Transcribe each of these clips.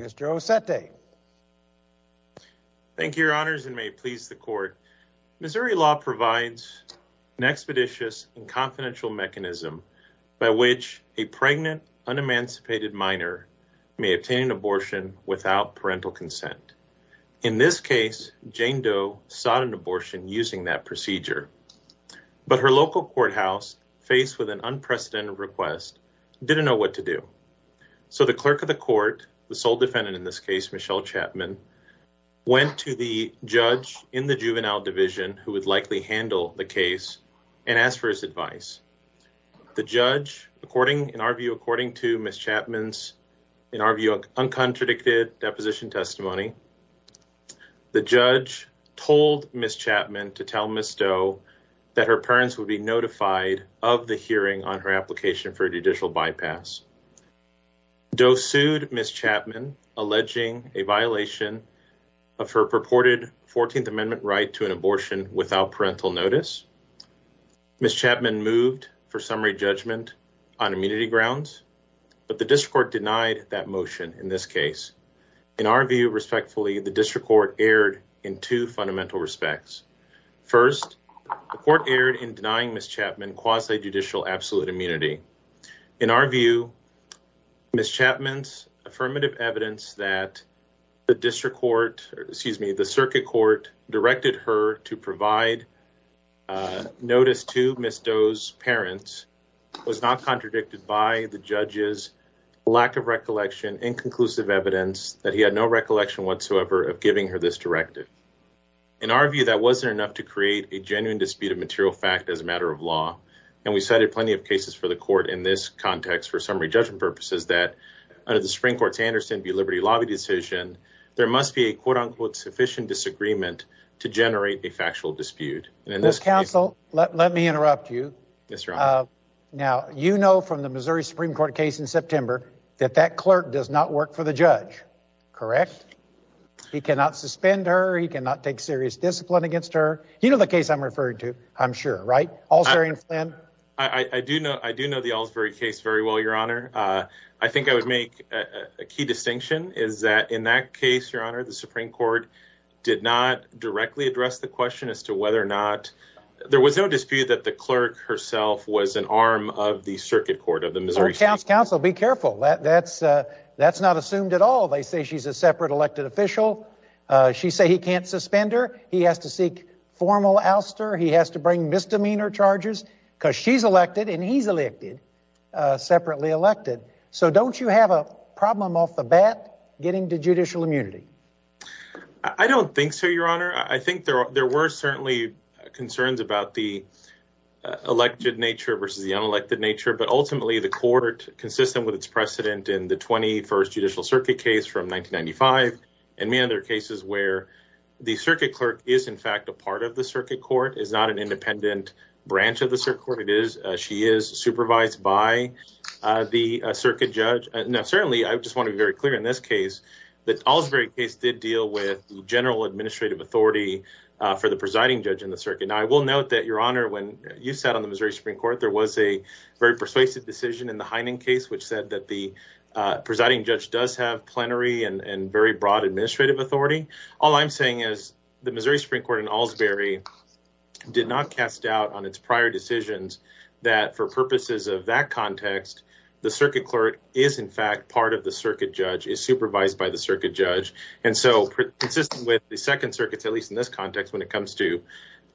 Mr. Ossette. Thank you, Your Honors, and may it please the Court, Missouri law provides an expeditious and confidential mechanism by which a pregnant, unemancipated minor may obtain an abortion without parental consent. In this case, Jane Doe sought an abortion using that procedure, but her local courthouse, faced with an unprecedented request, didn't know what to do. So the clerk of the court, the sole defendant in this case, Michelle Chapman, went to the judge in the juvenile division who would likely handle the case and asked for his advice. The judge, according, in our view, according to Ms. Chapman's, in our view, uncontradicted deposition testimony, the judge told Ms. Chapman to tell Ms. Doe that her parents would be notified of the hearing on her application for judicial bypass. Doe sued Ms. Chapman, alleging a violation of her purported 14th Amendment right to an abortion without parental notice. Ms. Chapman moved for summary judgment on immunity grounds, but the district court denied that motion in this case. In our view, respectfully, the district court erred in two fundamental respects. First, the court erred in denying Ms. Chapman quasi-judicial absolute immunity. In our view, Ms. Chapman's affirmative evidence that the district court, excuse me, the circuit court directed her to provide notice to Ms. Doe's parents was not contradicted by the recollection, inconclusive evidence that he had no recollection whatsoever of giving her this directive. In our view, that wasn't enough to create a genuine dispute of material fact as a matter of law. And we cited plenty of cases for the court in this context for summary judgment purposes that under the Supreme Court's Anderson v. Liberty lobby decision, there must be a quote-unquote sufficient disagreement to generate a factual dispute. And in this case- Well, counsel, let me interrupt you. Yes, Your Honor. Now, you know from the Missouri Supreme Court case in September that that clerk does not work for the judge, correct? He cannot suspend her. He cannot take serious discipline against her. You know the case I'm referring to, I'm sure, right, Alsbury v. Flynn? I do know the Alsbury case very well, Your Honor. I think I would make a key distinction is that in that case, Your Honor, the Supreme Court did not directly address the question as to whether or not, there was no dispute that the clerk herself was an arm of the circuit court of the Missouri Supreme Court. Counsel, be careful. That's not assumed at all. They say she's a separate elected official. She say he can't suspend her. He has to seek formal ouster. He has to bring misdemeanor charges because she's elected and he's elected, separately elected. So don't you have a problem off the bat getting to judicial immunity? I don't think so, Your Honor. I think there were certainly concerns about the elected nature versus the unelected nature, but ultimately the court, consistent with its precedent in the 21st Judicial Circuit case from 1995, and many other cases where the circuit clerk is in fact a part of the circuit court, is not an independent branch of the circuit court. She is supervised by the circuit judge. Now, certainly, I just want to be very clear in this case that the Alsbury case did deal with general administrative authority for the presiding judge in the circuit. Now, I will note that, Your Honor, when you sat on the Missouri Supreme Court, there was a very persuasive decision in the Heinen case which said that the presiding judge does have plenary and very broad administrative authority. All I'm saying is the Missouri Supreme Court in Alsbury did not cast doubt on its prior decisions that for purposes of that context, the circuit clerk is in fact part of the circuit judge, is supervised by the circuit judge. And so, consistent with the Second Circuit, at least in this context, when it comes to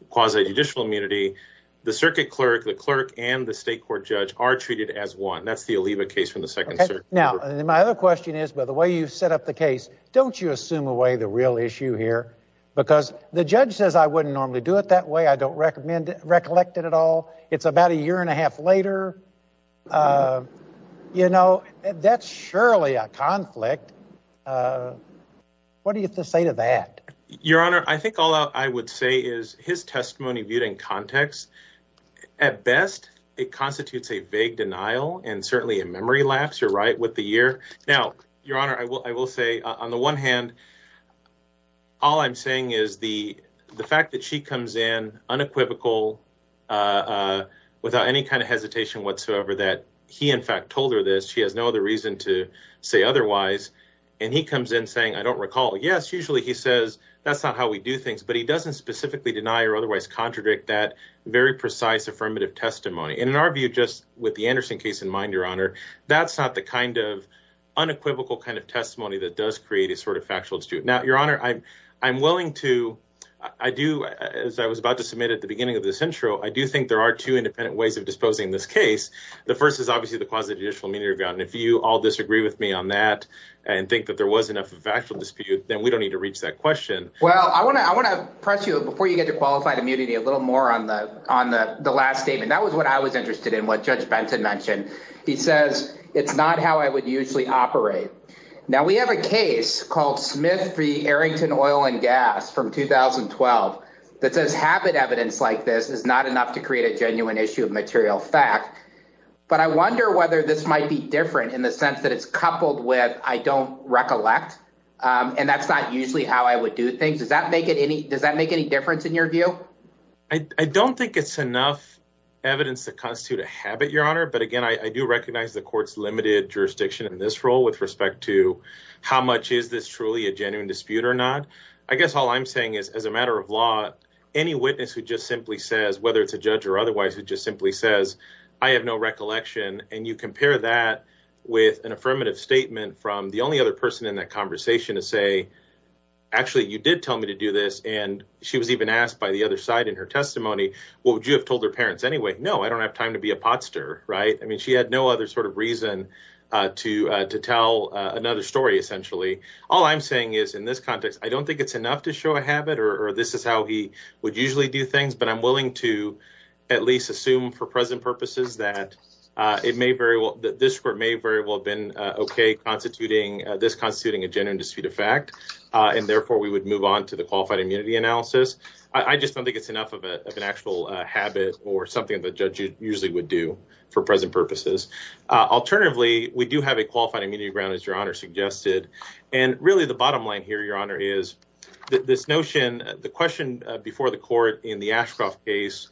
quasi-judicial immunity, the circuit clerk, the clerk, and the state court judge are treated as one. That's the Oliva case from the Second Circuit. Now, my other question is, by the way you've set up the case, don't you assume away the real issue here? Because the judge says, I wouldn't normally do it that way, I don't recollect it at all. It's about a year and a half later. You know, that's surely a conflict. What do you have to say to that? Your Honor, I think all I would say is his testimony viewed in context, at best, it constitutes a vague denial and certainly a memory lapse, you're right, with the year. Now, Your Honor, I will say, on the one hand, all I'm saying is the fact that she comes in unequivocal, without any kind of hesitation whatsoever, that he, in fact, told her this, she has no other reason to say otherwise, and he comes in saying, I don't recall. Yes, usually he says, that's not how we do things, but he doesn't specifically deny or otherwise contradict that very precise affirmative testimony. And in our view, just with the Anderson case in mind, Your Honor, that's not the kind of unequivocal kind of testimony that does create a sort of factual dispute. Now, Your Honor, I'm willing to, I do, as I was about to submit at the beginning of this intro, I do think there are two independent ways of disposing this case. The first is obviously the quasi judicial immunity review, and if you all disagree with me on that and think that there was enough of a factual dispute, then we don't need to reach that question. Well, I want to press you, before you get to qualified immunity, a little more on the last statement. That was what I was interested in, what Judge Benton mentioned. He says, it's not how I would usually operate. Now, we have a case called Smith v. Arrington Oil and Gas from 2012 that says habit evidence like this is not enough to create a genuine issue of material fact. But I wonder whether this might be different in the sense that it's coupled with, I don't recollect, and that's not usually how I would do things. Does that make it any, does that make any difference in your view? I don't think it's enough evidence to constitute a habit, Your Honor, but again, I do recognize the court's limited jurisdiction in this role with respect to how much is this truly a genuine dispute or not. I guess all I'm saying is, as a matter of law, any witness who just simply says, whether it's a judge or otherwise, who just simply says, I have no recollection, and you compare that with an affirmative statement from the only other person in that conversation to say, actually, you did tell me to do this, and she was even asked by the other side in her testimony, well, would you have told her parents anyway? No, I don't have time to be a potstir, right? I mean, she had no other sort of reason to tell another story, essentially. All I'm saying is, in this context, I don't think it's enough to show a habit, or this is how he would usually do things, but I'm willing to at least assume for present purposes that it may very well, that this court may very well have been okay constituting, this constituting a genuine dispute of fact, and therefore we would move on to the qualified immunity analysis. I just don't think it's enough of an actual habit or something that a judge usually would do for present purposes. Alternatively, we do have a qualified immunity ground, as Your Honor suggested, and really the bottom line here, Your Honor, is that this notion, the question before the court in the Ashcroft case,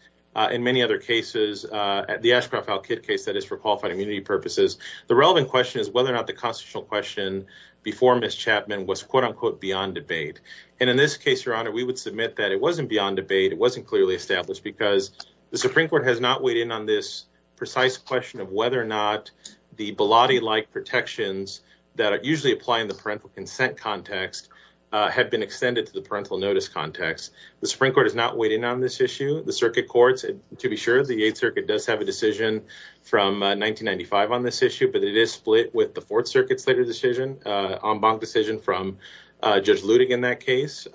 in many other cases, the Ashcroft-Alkit case that is for qualified immunity purposes, the relevant question is whether or not the constitutional question before Ms. Chapman was quote unquote beyond debate, and in this case, Your Honor, we would submit that it wasn't beyond debate, it wasn't clearly established, because the Supreme Court has not weighed in on this precise question of whether or not the Bilotti-like protections that are usually applied in the parental consent context have been extended to the parental notice context. The Supreme Court has not weighed in on this issue. The circuit courts, to be sure, the Eighth Circuit does have a decision from 1995 on this issue, but it is split with the Fourth Circuit's later decision, en banc decision from Judge Ludig in that case.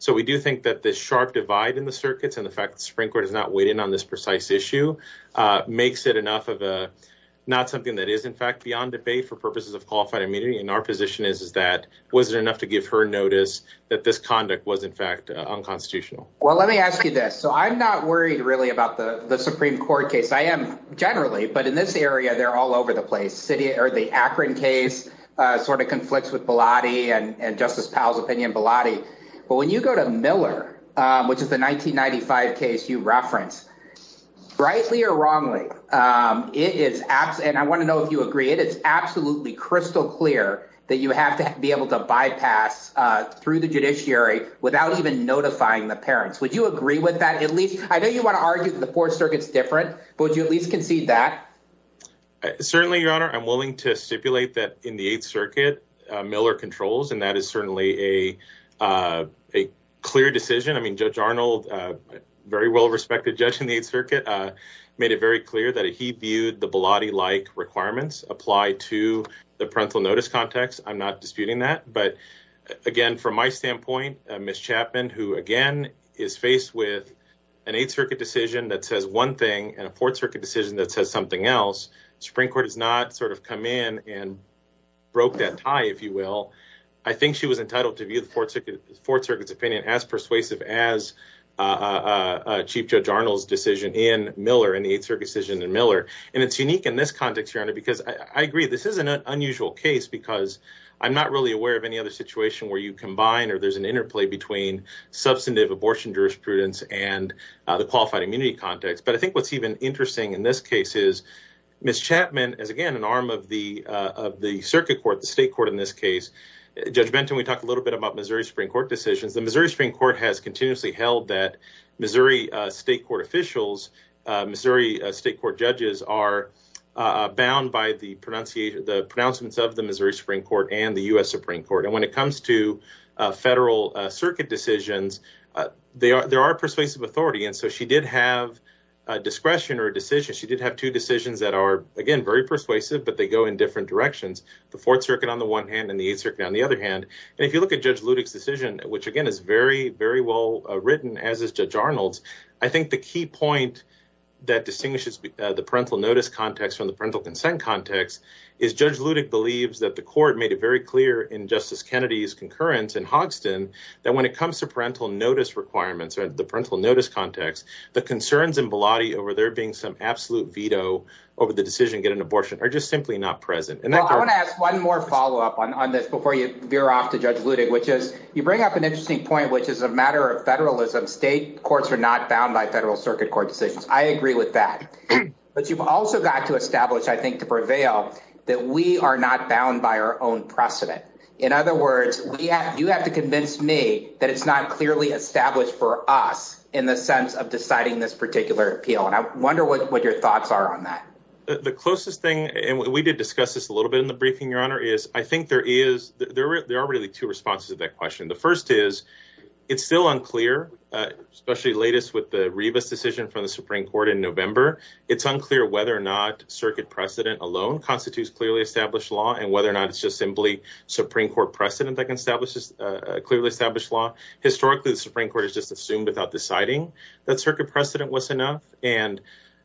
So we do think that the sharp divide in the circuits and the fact that the Supreme Court has not weighed in on this precise issue makes it enough of a not something that is in fact beyond debate for purposes of qualified immunity, and our position is that was it enough to give her notice that this conduct was in fact unconstitutional? Well, let me ask you this. So I'm not worried really about the Supreme Court case. I am generally, but in this area, they're all over the place. The Akron case sort of conflicts with Bilotti and Justice Powell's opinion on Bilotti, but when you go to Miller, which is the 1995 case you reference, rightly or wrongly, it is absent. I want to know if you agree. It is absolutely crystal clear that you have to be able to bypass through the judiciary without even notifying the parents. Would you agree with that? At least I know you want to argue that the Fourth Circuit's different, but would you at least concede that? Certainly, Your Honor, I'm willing to stipulate that in the Eighth Circuit, Miller controls, and that is certainly a clear decision. I mean, Judge Arnold, a very well-respected judge in the Eighth Circuit, made it very clear that he viewed the Bilotti-like requirements apply to the parental notice context. I'm not disputing that, but again, from my standpoint, Ms. Chapman, who again is faced with an Eighth Circuit decision that says one thing and a Fourth Circuit decision that says something else, the Supreme Court has not sort of come in and broke that tie, if you will. I think she was entitled to view the Fourth Circuit's opinion as persuasive as Chief Judge Arnold's decision in Miller, in the Eighth Circuit decision in Miller, and it's unique in this context, Your Honor, because I agree, this is an unusual case because I'm not really aware of any other situation where you combine or there's an interplay between substantive abortion jurisprudence and the qualified immunity context, but I think what's even interesting in this case is Ms. Chapman is, again, an arm of the Circuit Court, the State Court in this case. Judge Benton, we talked a little bit about Missouri Supreme Court decisions. The Missouri Supreme Court has continuously held that Missouri State Court officials, Missouri State Court judges are bound by the pronouncements of the Missouri Supreme Court and the U.S. Supreme Court, and when it comes to Federal Circuit decisions, there are persuasive authority, and so she did have discretion or a decision, she did have two decisions that are, again, very persuasive, but they go in different directions, the Fourth Circuit on the one hand and the Eighth Circuit on the other hand, and if you look at Judge Ludick's decision, which, again, is very, very well written, as is Judge Arnold's, I think the key point that distinguishes the parental notice context from the parental consent context is Judge Ludick believes that the court made it very clear in Justice Kennedy's concurrence in Hoxton that when it comes to parental notice requirements or the parental notice context, the concerns in Bilotti over there being some absolute veto over the decision to get an abortion are just simply not present. I want to ask one more follow-up on this before you veer off to Judge Ludick, which is you bring up an interesting point, which is a matter of federalism. State courts are not bound by Federal Circuit Court decisions. I agree with that, but you've also got to establish, I think, to prevail, that we are not bound by our own precedent. In other words, you have to convince me that it's not clearly established for us in the sense of deciding this particular appeal, and I wonder what your thoughts are on that. The closest thing, and we did discuss this a little bit in the briefing, Your Honor, is I think there are really two responses to that question. The first is it's still unclear, especially latest with the Rivas decision from the Supreme Court in November, it's unclear whether or not Circuit precedent alone constitutes clearly established law and whether or not it's just simply Supreme Court precedent that can establish a clearly established law. Historically, the Supreme Court has just assumed without deciding that Circuit precedent was enough, and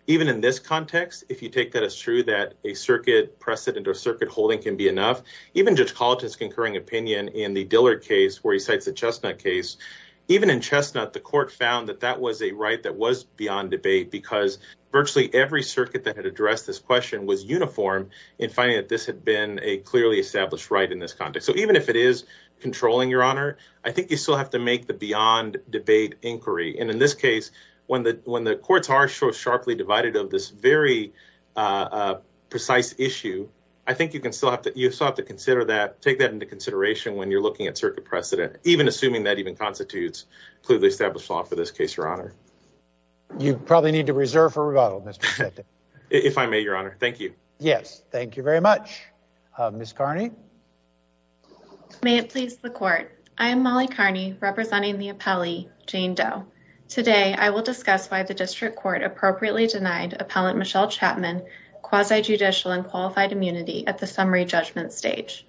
even in this context, if you take that as true, that a Circuit precedent or Circuit holding can be enough, even Judge Collett's concurring opinion in the Dillard case where he cites the Chestnut case, even in Chestnut, the court found that that was a right that was beyond debate because virtually every circuit that had addressed this question was uniform in finding that this had been a clearly established right in this context. So even if it is controlling, Your Honor, I think you still have to make the beyond debate inquiry. And in this case, when the courts are so sharply divided of this very precise issue, I think you can still have to consider that, take that into consideration when you're looking at Circuit precedent, even assuming that even constitutes clearly established law for this case, Your Honor. You probably need to reserve for rebuttal, Mr. Pesetti. If I may, Your Honor. Thank you. Yes. Thank you very much. Ms. Carney. May it please the Court. I am Molly Carney, representing the appellee, Jane Doe. Today, I will discuss why the District Court appropriately denied appellant Michelle Chapman quasi-judicial and qualified immunity at the summary judgment stage.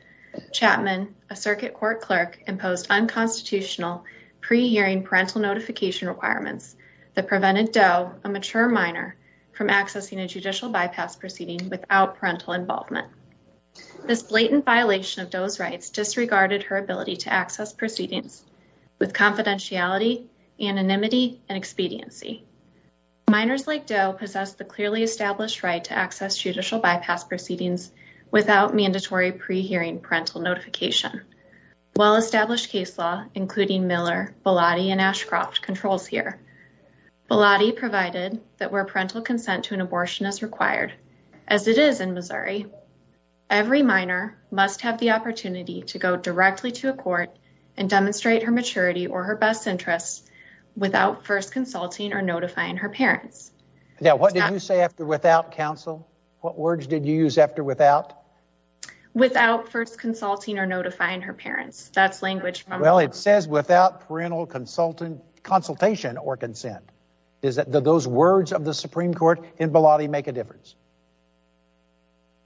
Chapman, a Circuit Court clerk, imposed unconstitutional pre-hearing parental notification requirements that prevented Doe, a mature minor, from accessing a judicial bypass proceeding without parental involvement. This blatant violation of Doe's rights disregarded her ability to access proceedings with confidentiality, anonymity, and expediency. Minors like Doe possessed the clearly established right to access judicial bypass proceedings without mandatory pre-hearing parental notification. Well-established case law, including Miller, Bilotti, and Ashcroft, controls here. Bilotti provided that where parental consent to an abortion is required, as it is in Missouri, every minor must have the opportunity to go directly to a court and demonstrate her maturity or her best interests without first consulting or notifying her parents. Now, what did you say after without, counsel? What words did you use after without? Without first consulting or notifying her parents. That's language from... Well, it says without parental consultation or consent. Is that those words of the Supreme Court in Bilotti make a difference?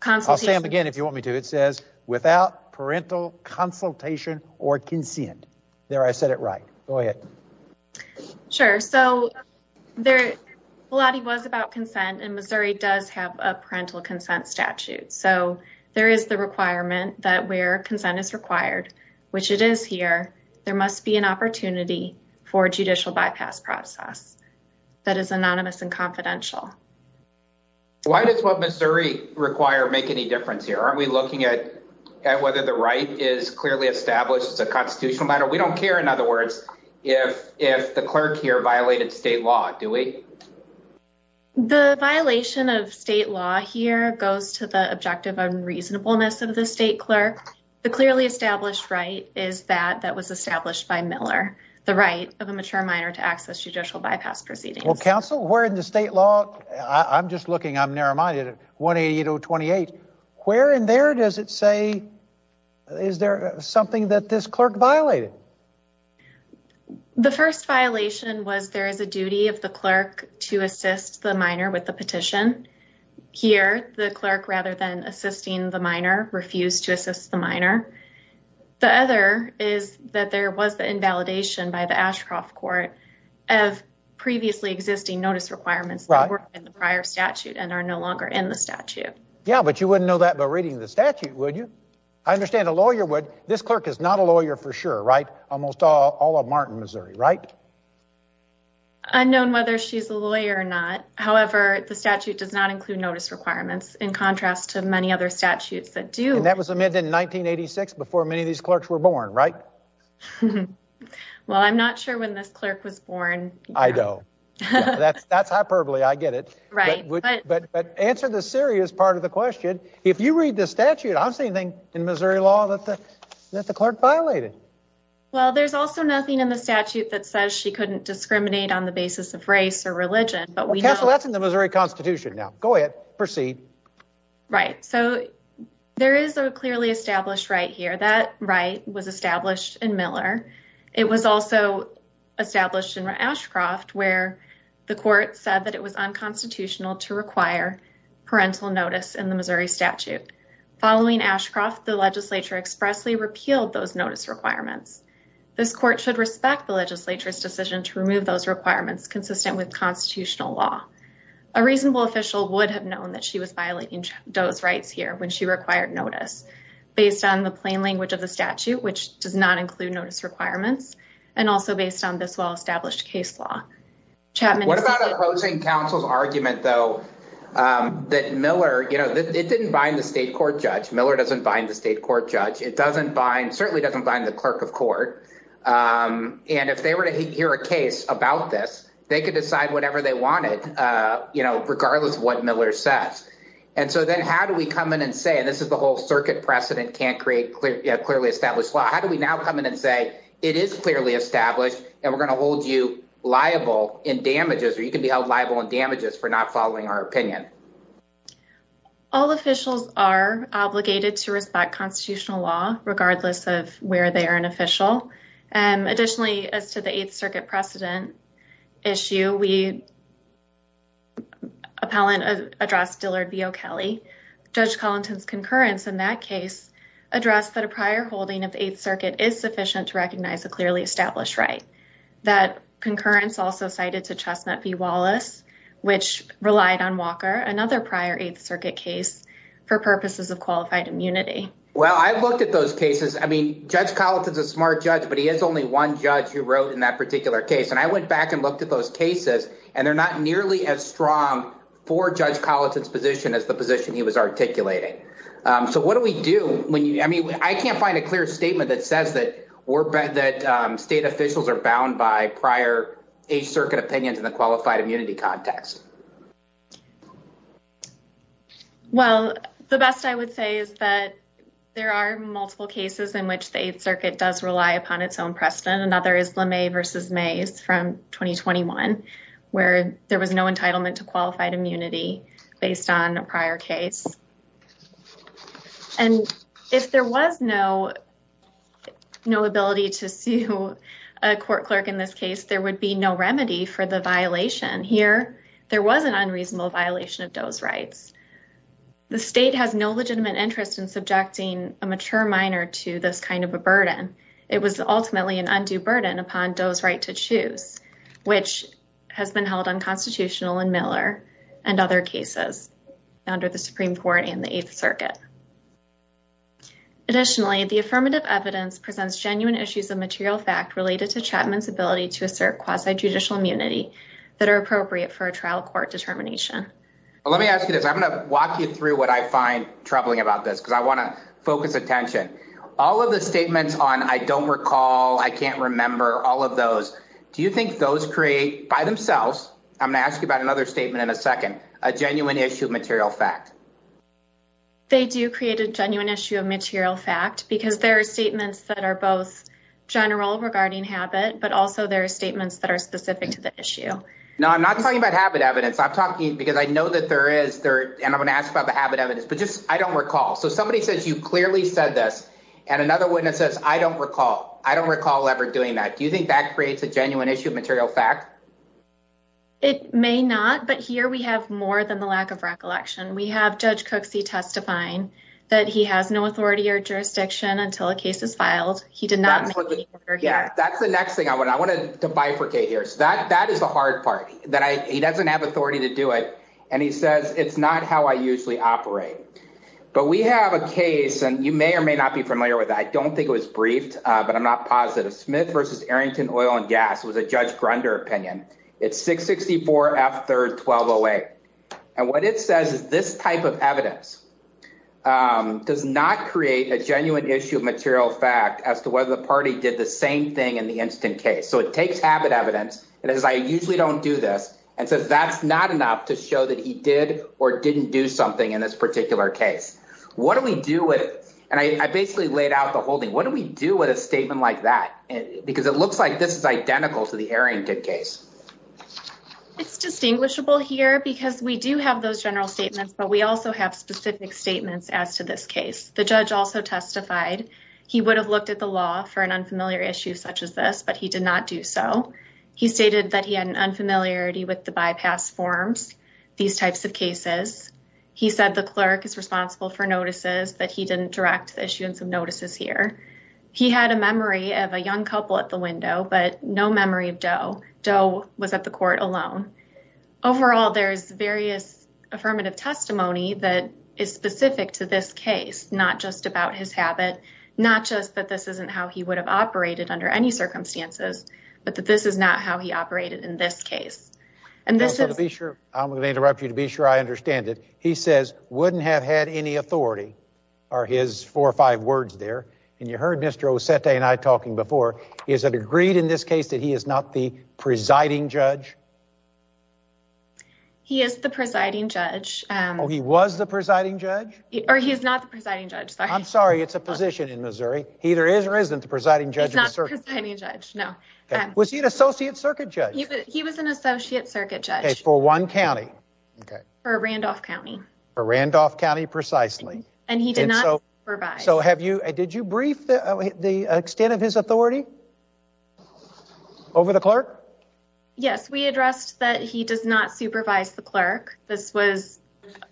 I'll say them again if you want me to. It says without parental consultation or consent. There I said it right. Go ahead. Sure. So Bilotti was about consent and Missouri does have a parental consent statute. So there is the requirement that where consent is required, which it is here, there must be an opportunity for a judicial bypass process that is anonymous and confidential. Why does what Missouri require make any difference here? Aren't we looking at whether the right is clearly established as a constitutional matter? We don't care, in other words, if the clerk here violated state law, do we? The violation of state law here goes to the objective unreasonableness of the state clerk. The clearly established right is that that was established by Miller, the right of a mature minor to access judicial bypass proceedings. Well, counsel, where in the state law? I'm just looking. I'm narrow-minded. 188028. Where in there does it say, is there something that this clerk violated? The first violation was there is a duty of the clerk to assist the minor with the petition. Here, the clerk, rather than assisting the minor, refused to assist the minor. The other is that there was the invalidation by the Ashcroft court of previously existing notice requirements that were in the prior statute and are no longer in the statute. Yeah, but you wouldn't know that by reading the statute, would you? I understand a lawyer would. This clerk is not a lawyer for sure, right? Almost all of Martin, Missouri, right? Unknown whether she's a lawyer or not. However, the statute does not include notice requirements in contrast to many other statutes that do. And that was amended in 1986 before many of these clerks were born, right? Well, I'm not sure when this clerk was born. I know that's hyperbole. I get it. Right. But answer the serious part of the question. If you read the statute, I don't see anything in Missouri law that the that the clerk violated. Well, there's also nothing in the statute that says she couldn't discriminate on the basis of race or religion, but we know that's in the Missouri Constitution now. Go ahead. Proceed. Right. So there is a clearly established right here. That right was established in Miller. It was also established in Ashcroft, where the court said that it was unconstitutional to require parental notice in the Missouri statute. Following Ashcroft, the legislature expressly repealed those notice requirements. This court should respect the legislature's decision to remove those requirements consistent with constitutional law. A reasonable official would have known that she was violating those rights here when she required notice based on the plain language of the statute, which does not include notice requirements and also based on this well-established case law. What about opposing counsel's argument, though, that Miller, you know, it didn't bind the state court judge. Miller doesn't bind the state court judge. It doesn't bind certainly doesn't bind the clerk of court. And if they were to hear a case about this, they could decide whatever they wanted, you know, regardless of what Miller says. And so then how do we come in and say this is the whole circuit precedent can't create clear, clearly established law? How do we now come in and say it is clearly established and we're going to hold you liable in damages or you can be held liable in damages for not following our opinion? All officials are obligated to respect constitutional law regardless of where they are an official. And additionally, as to the Eighth Circuit precedent issue, we appellant addressed Dillard B.O. Kelly. Judge Collington's concurrence in that case addressed that a prior holding of the Eighth Circuit is sufficient to recognize a clearly established right. That concurrence also cited to Chestnut v. Wallace, which relied on Walker, another prior Eighth Circuit case for purposes of qualified immunity. Well, I've looked at those cases. I mean, Judge Collington's a smart judge, but he has only one judge who wrote in that particular case. And I went back and looked at those cases and they're not nearly as strong for Judge Collington's position as the position he was articulating. So what do we do when you I mean, I can't find a clear statement that says that we're that state officials are bound by prior Eighth Circuit opinions in the qualified immunity context. Well, the best I would say is that there are multiple cases in which the Eighth Circuit does rely upon its own precedent. Another is LeMay v. Mays from 2021, where there was no entitlement to qualified immunity based on a prior case. And if there was no ability to sue a court clerk in this case, there would be no remedy for the violation. Here, there was an unreasonable violation of Doe's rights. The state has no legitimate interest in subjecting a mature minor to this kind of a burden. It was ultimately an undue burden upon Doe's right to choose, which has been held unconstitutional in Miller and other cases under the Supreme Court and the Eighth Circuit. Additionally, the affirmative evidence presents genuine issues of material fact related to Chapman's ability to assert quasi-judicial immunity that are appropriate for a trial court determination. Well, let me ask you this. I'm going to walk you through what I find troubling about this because I want to focus attention. All of the statements on I don't recall, I can't remember all of those. Do you think those create by themselves, I'm going to ask you about another statement in a second, a genuine issue of material fact? They do create a genuine issue of material fact because there are statements that are both general regarding habit, but also there are statements that are specific to the issue. No, I'm not talking about habit evidence. I'm talking because I know that there is there. And I'm going to ask about the habit evidence, but just I don't recall. So somebody says you clearly said this. And another witness says, I don't recall. I don't recall ever doing that. Do you think that creates a genuine issue of material fact? It may not, but here we have more than the lack of recollection. We have Judge Cooksey testifying that he has no authority or jurisdiction until a case is filed. He did not. Yeah, that's the next thing I want. I want to bifurcate here. So that that is the hard part that he doesn't have authority to do it. And he says it's not how I usually operate. But we have a case and you may or may not be familiar with. I don't think it was briefed, but I'm not positive. Smith versus Arrington Oil and Gas was a Judge Grunder opinion. It's six sixty four after twelve away. And what it says is this type of evidence does not create a genuine issue of material fact as to whether the party did the same thing in the instant case. So it takes habit evidence. And as I usually don't do this and says that's not enough to show that he did or didn't do something in this particular case. What do we do with it? And I basically laid out the whole thing. What do we do with a statement like that? Because it looks like this is identical to the Arrington case. It's distinguishable here because we do have those general statements, but we also have specific statements as to this case. The judge also testified he would have looked at the law for an unfamiliar issue such as this, but he did not do so. He stated that he had an unfamiliarity with the bypass forms, these types of cases. He said the clerk is responsible for notices that he didn't direct the issue and some notices here. He had a memory of a young couple at the window, but no memory of Joe. Joe was at the court alone. Overall, there's various affirmative testimony that is specific to this case, not just about his habit, not just that this isn't how he would have operated under any circumstances, but that this is not how he operated in this case. And this is to be sure. I'm going to interrupt you to be sure I understand it. He says wouldn't have had any authority or his four or five words there. And you heard Mr. Ossetti and I talking before. Is it agreed in this case that he is not the presiding judge? He is the presiding judge. He was the presiding judge or he is not the presiding judge. I'm sorry, it's a position in Missouri. He either is or isn't the presiding judge. It's not a presiding judge. No. Was he an associate circuit judge? He was an associate circuit judge for one county, Randolph County, Randolph County precisely. And he did not provide. So have you did you brief the extent of his authority over the clerk? Yes, we addressed that he does not supervise the clerk. This was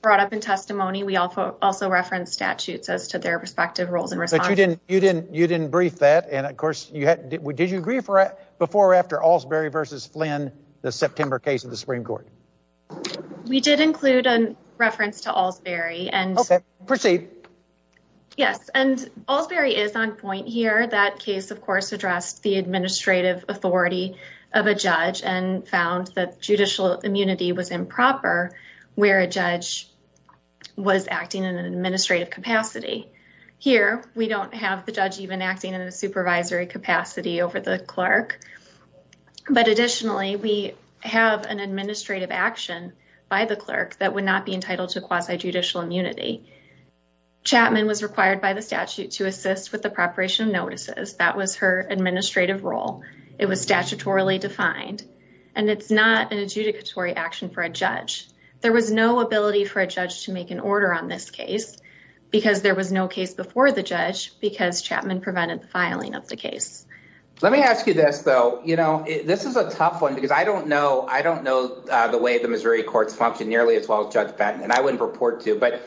brought up in testimony. We also reference statutes as to their respective roles. And you didn't you didn't you didn't brief that. And of course, you did you agree for it before or after Allsbury versus Flynn, the September case of the Supreme Court? We did include a reference to Allsbury and proceed. Yes, and Allsbury is on point here. That case, of course, addressed the administrative authority of a judge and found that judicial immunity was improper where a judge was acting in an administrative capacity. Here, we don't have the judge even acting in a supervisory capacity over the clerk. But additionally, we have an administrative action by the clerk that would not be entitled to quasi judicial immunity. Chapman was required by the statute to assist with the preparation of notices. That was her administrative role. It was statutorily defined and it's not an adjudicatory action for a judge. There was no ability for a judge to make an order on this case because there was no case before the judge, because Chapman prevented the filing of the case. Let me ask you this, though. You know, this is a tough one because I don't know. I don't know the way the Missouri courts function nearly as well as Judge Patton and I wouldn't report to. But,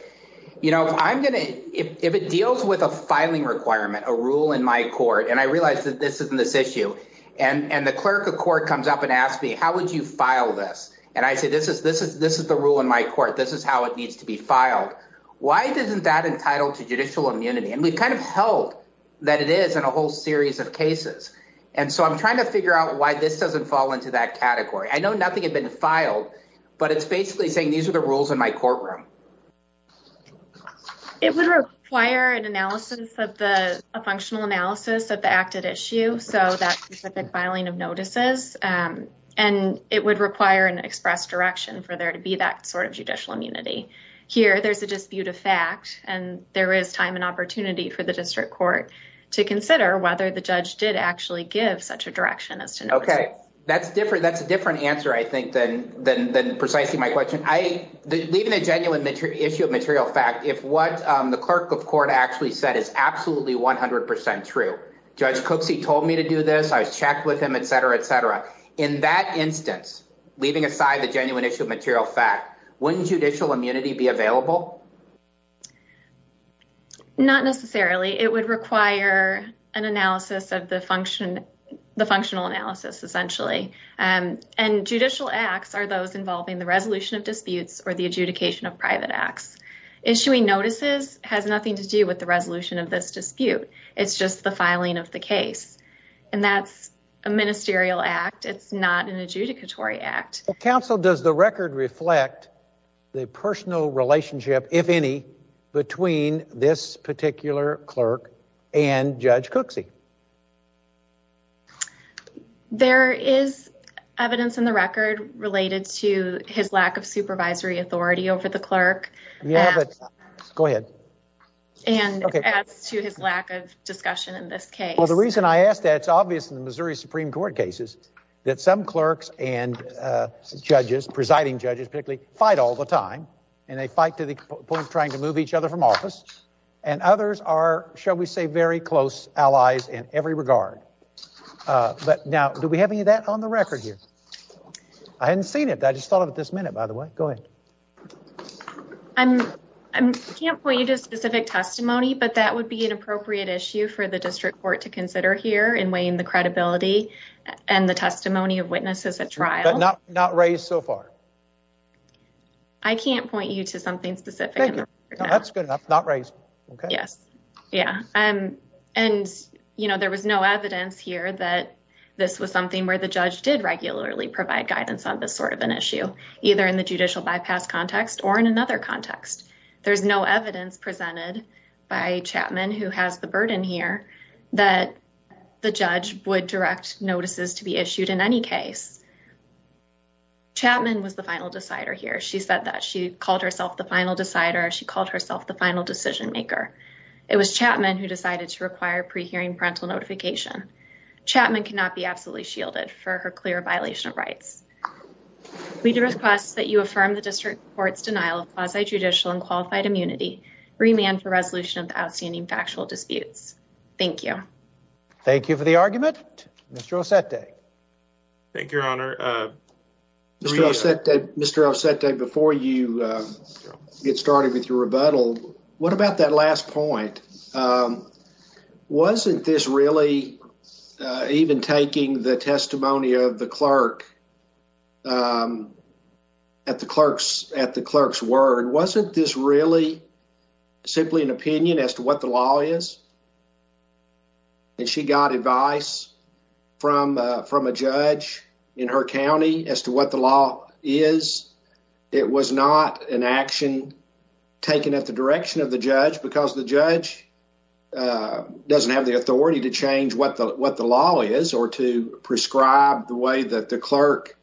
you know, I'm going to if it deals with a filing requirement, a rule in my court. And I realize that this isn't this issue. And the clerk of court comes up and asks me, how would you file this? And I say, this is this is this is the rule in my court. This is how it needs to be filed. Why isn't that entitled to judicial immunity? And we've kind of held that it is in a whole series of cases. And so I'm trying to figure out why this doesn't fall into that category. I know nothing had been filed, but it's basically saying these are the rules in my courtroom. It would require an analysis of the functional analysis of the acted issue. So that specific filing of notices and it would require an express direction for there to be that sort of judicial immunity here. There's a dispute of fact and there is time and opportunity for the district court to consider whether the judge did actually give such a direction as to. OK, that's different. That's a different answer, I think, than than than precisely my question. I believe in a genuine issue of material fact, if what the clerk of court actually said is absolutely 100 percent true, Judge Cooksey told me to do this. I was checked with him, et cetera, et cetera. In that instance, leaving aside the genuine issue of material fact, wouldn't judicial immunity be available? Not necessarily, it would require an analysis of the function, the functional analysis essentially, and judicial acts are those involving the resolution of disputes or the adjudication of private acts. Issuing notices has nothing to do with the resolution of this dispute. It's just the filing of the case. And that's a ministerial act. It's not an adjudicatory act. Counsel, does the record reflect the personal relationship, if any, between this particular clerk and Judge Cooksey? There is evidence in the record related to his lack of supervisory authority over the go ahead. And as to his lack of discussion in this case, the reason I asked that, it's obvious in the Missouri Supreme Court cases that some clerks and judges, presiding judges, particularly, fight all the time and they fight to the point of trying to move each other from office. And others are, shall we say, very close allies in every regard. But now, do we have any of that on the record here? I hadn't seen it. I just thought of it this minute, by the way. Go ahead. I can't point you to a specific testimony, but that would be an appropriate issue for the district court to consider here in weighing the credibility and the testimony of witnesses at trial. But not raised so far? I can't point you to something specific. That's good enough. Not raised. Yes. Yeah. And, you know, there was no evidence here that this was something where the judge did not have a judicial bypass context or in another context. There's no evidence presented by Chapman, who has the burden here, that the judge would direct notices to be issued in any case. Chapman was the final decider here. She said that she called herself the final decider. She called herself the final decision maker. It was Chapman who decided to require pre-hearing parental notification. Chapman cannot be absolutely shielded for her clear violation of rights. We do request that you affirm the district court's denial of quasi judicial and qualified immunity. Remand for resolution of the outstanding factual disputes. Thank you. Thank you for the argument, Mr. Osete. Thank you, Your Honor. Mr. Osete, before you get started with your rebuttal, what about that last point? Wasn't this really even taking the testimony of the clerk at the clerk's at the clerk's word? Wasn't this really simply an opinion as to what the law is? And she got advice from from a judge in her county as to what the law is. It was not an action taken at the direction of the judge because the judge doesn't have the authority to change what the what the law is or to prescribe the way that the clerk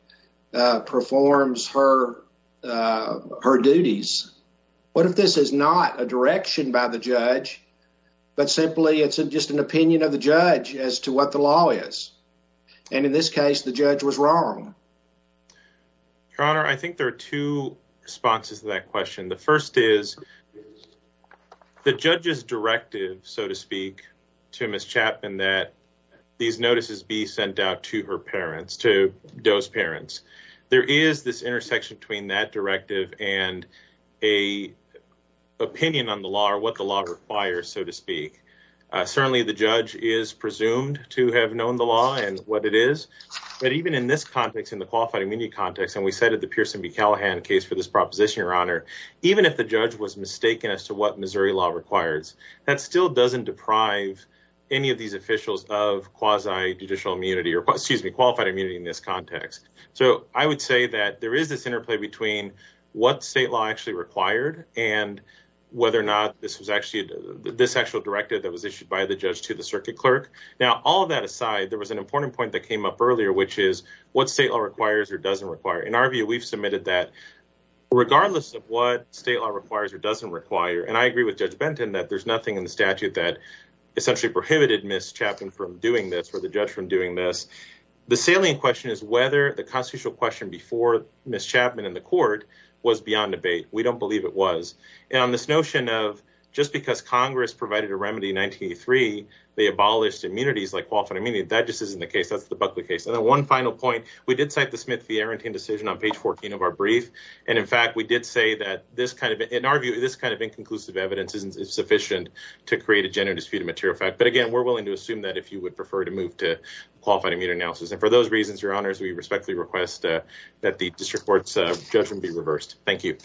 performs her her duties. What if this is not a direction by the judge, but simply it's just an opinion of the judge as to what the law is? And in this case, the judge was wrong. Your Honor, I think there are two responses to that question. The first is the judge's directive, so to speak, to Miss Chapman that these notices be sent out to her parents, to those parents. There is this intersection between that directive and a opinion on the law or what the law requires, so to speak. Certainly, the judge is presumed to have known the law and what it is. But even in this context, in the qualified immunity context, and we cited the Pearson B. Callahan case for this proposition, Your Honor, even if the judge was mistaken as to what Missouri law requires, that still doesn't deprive any of these officials of quasi judicial immunity or excuse me, qualified immunity in this context. So I would say that there is this interplay between what state law actually required and whether or not this was actually this actual directive that was issued by the judge to the circuit clerk. Now, all of that aside, there was an important point that came up earlier, which is what state law requires or doesn't require. In our view, we've submitted that regardless of what state law requires or doesn't require. And I agree with Judge Benton that there's nothing in the statute that essentially prohibited Miss Chapman from doing this or the judge from doing this. The salient question is whether the constitutional question before Miss Chapman in the court was beyond debate. We don't believe it was. And on this notion of just because Congress provided a remedy in 1983, they abolished immunities like qualified immunity. That just isn't the case. And then one final point. We did cite the Smith v. Arrentine decision on page 14 of our brief. And in fact, we did say that this kind of in our view, this kind of inconclusive evidence isn't sufficient to create a gender disputed material fact. But again, we're willing to assume that if you would prefer to move to qualified immunity analysis. And for those reasons, your honors, we respectfully request that the district court's judgment be reversed. Thank you.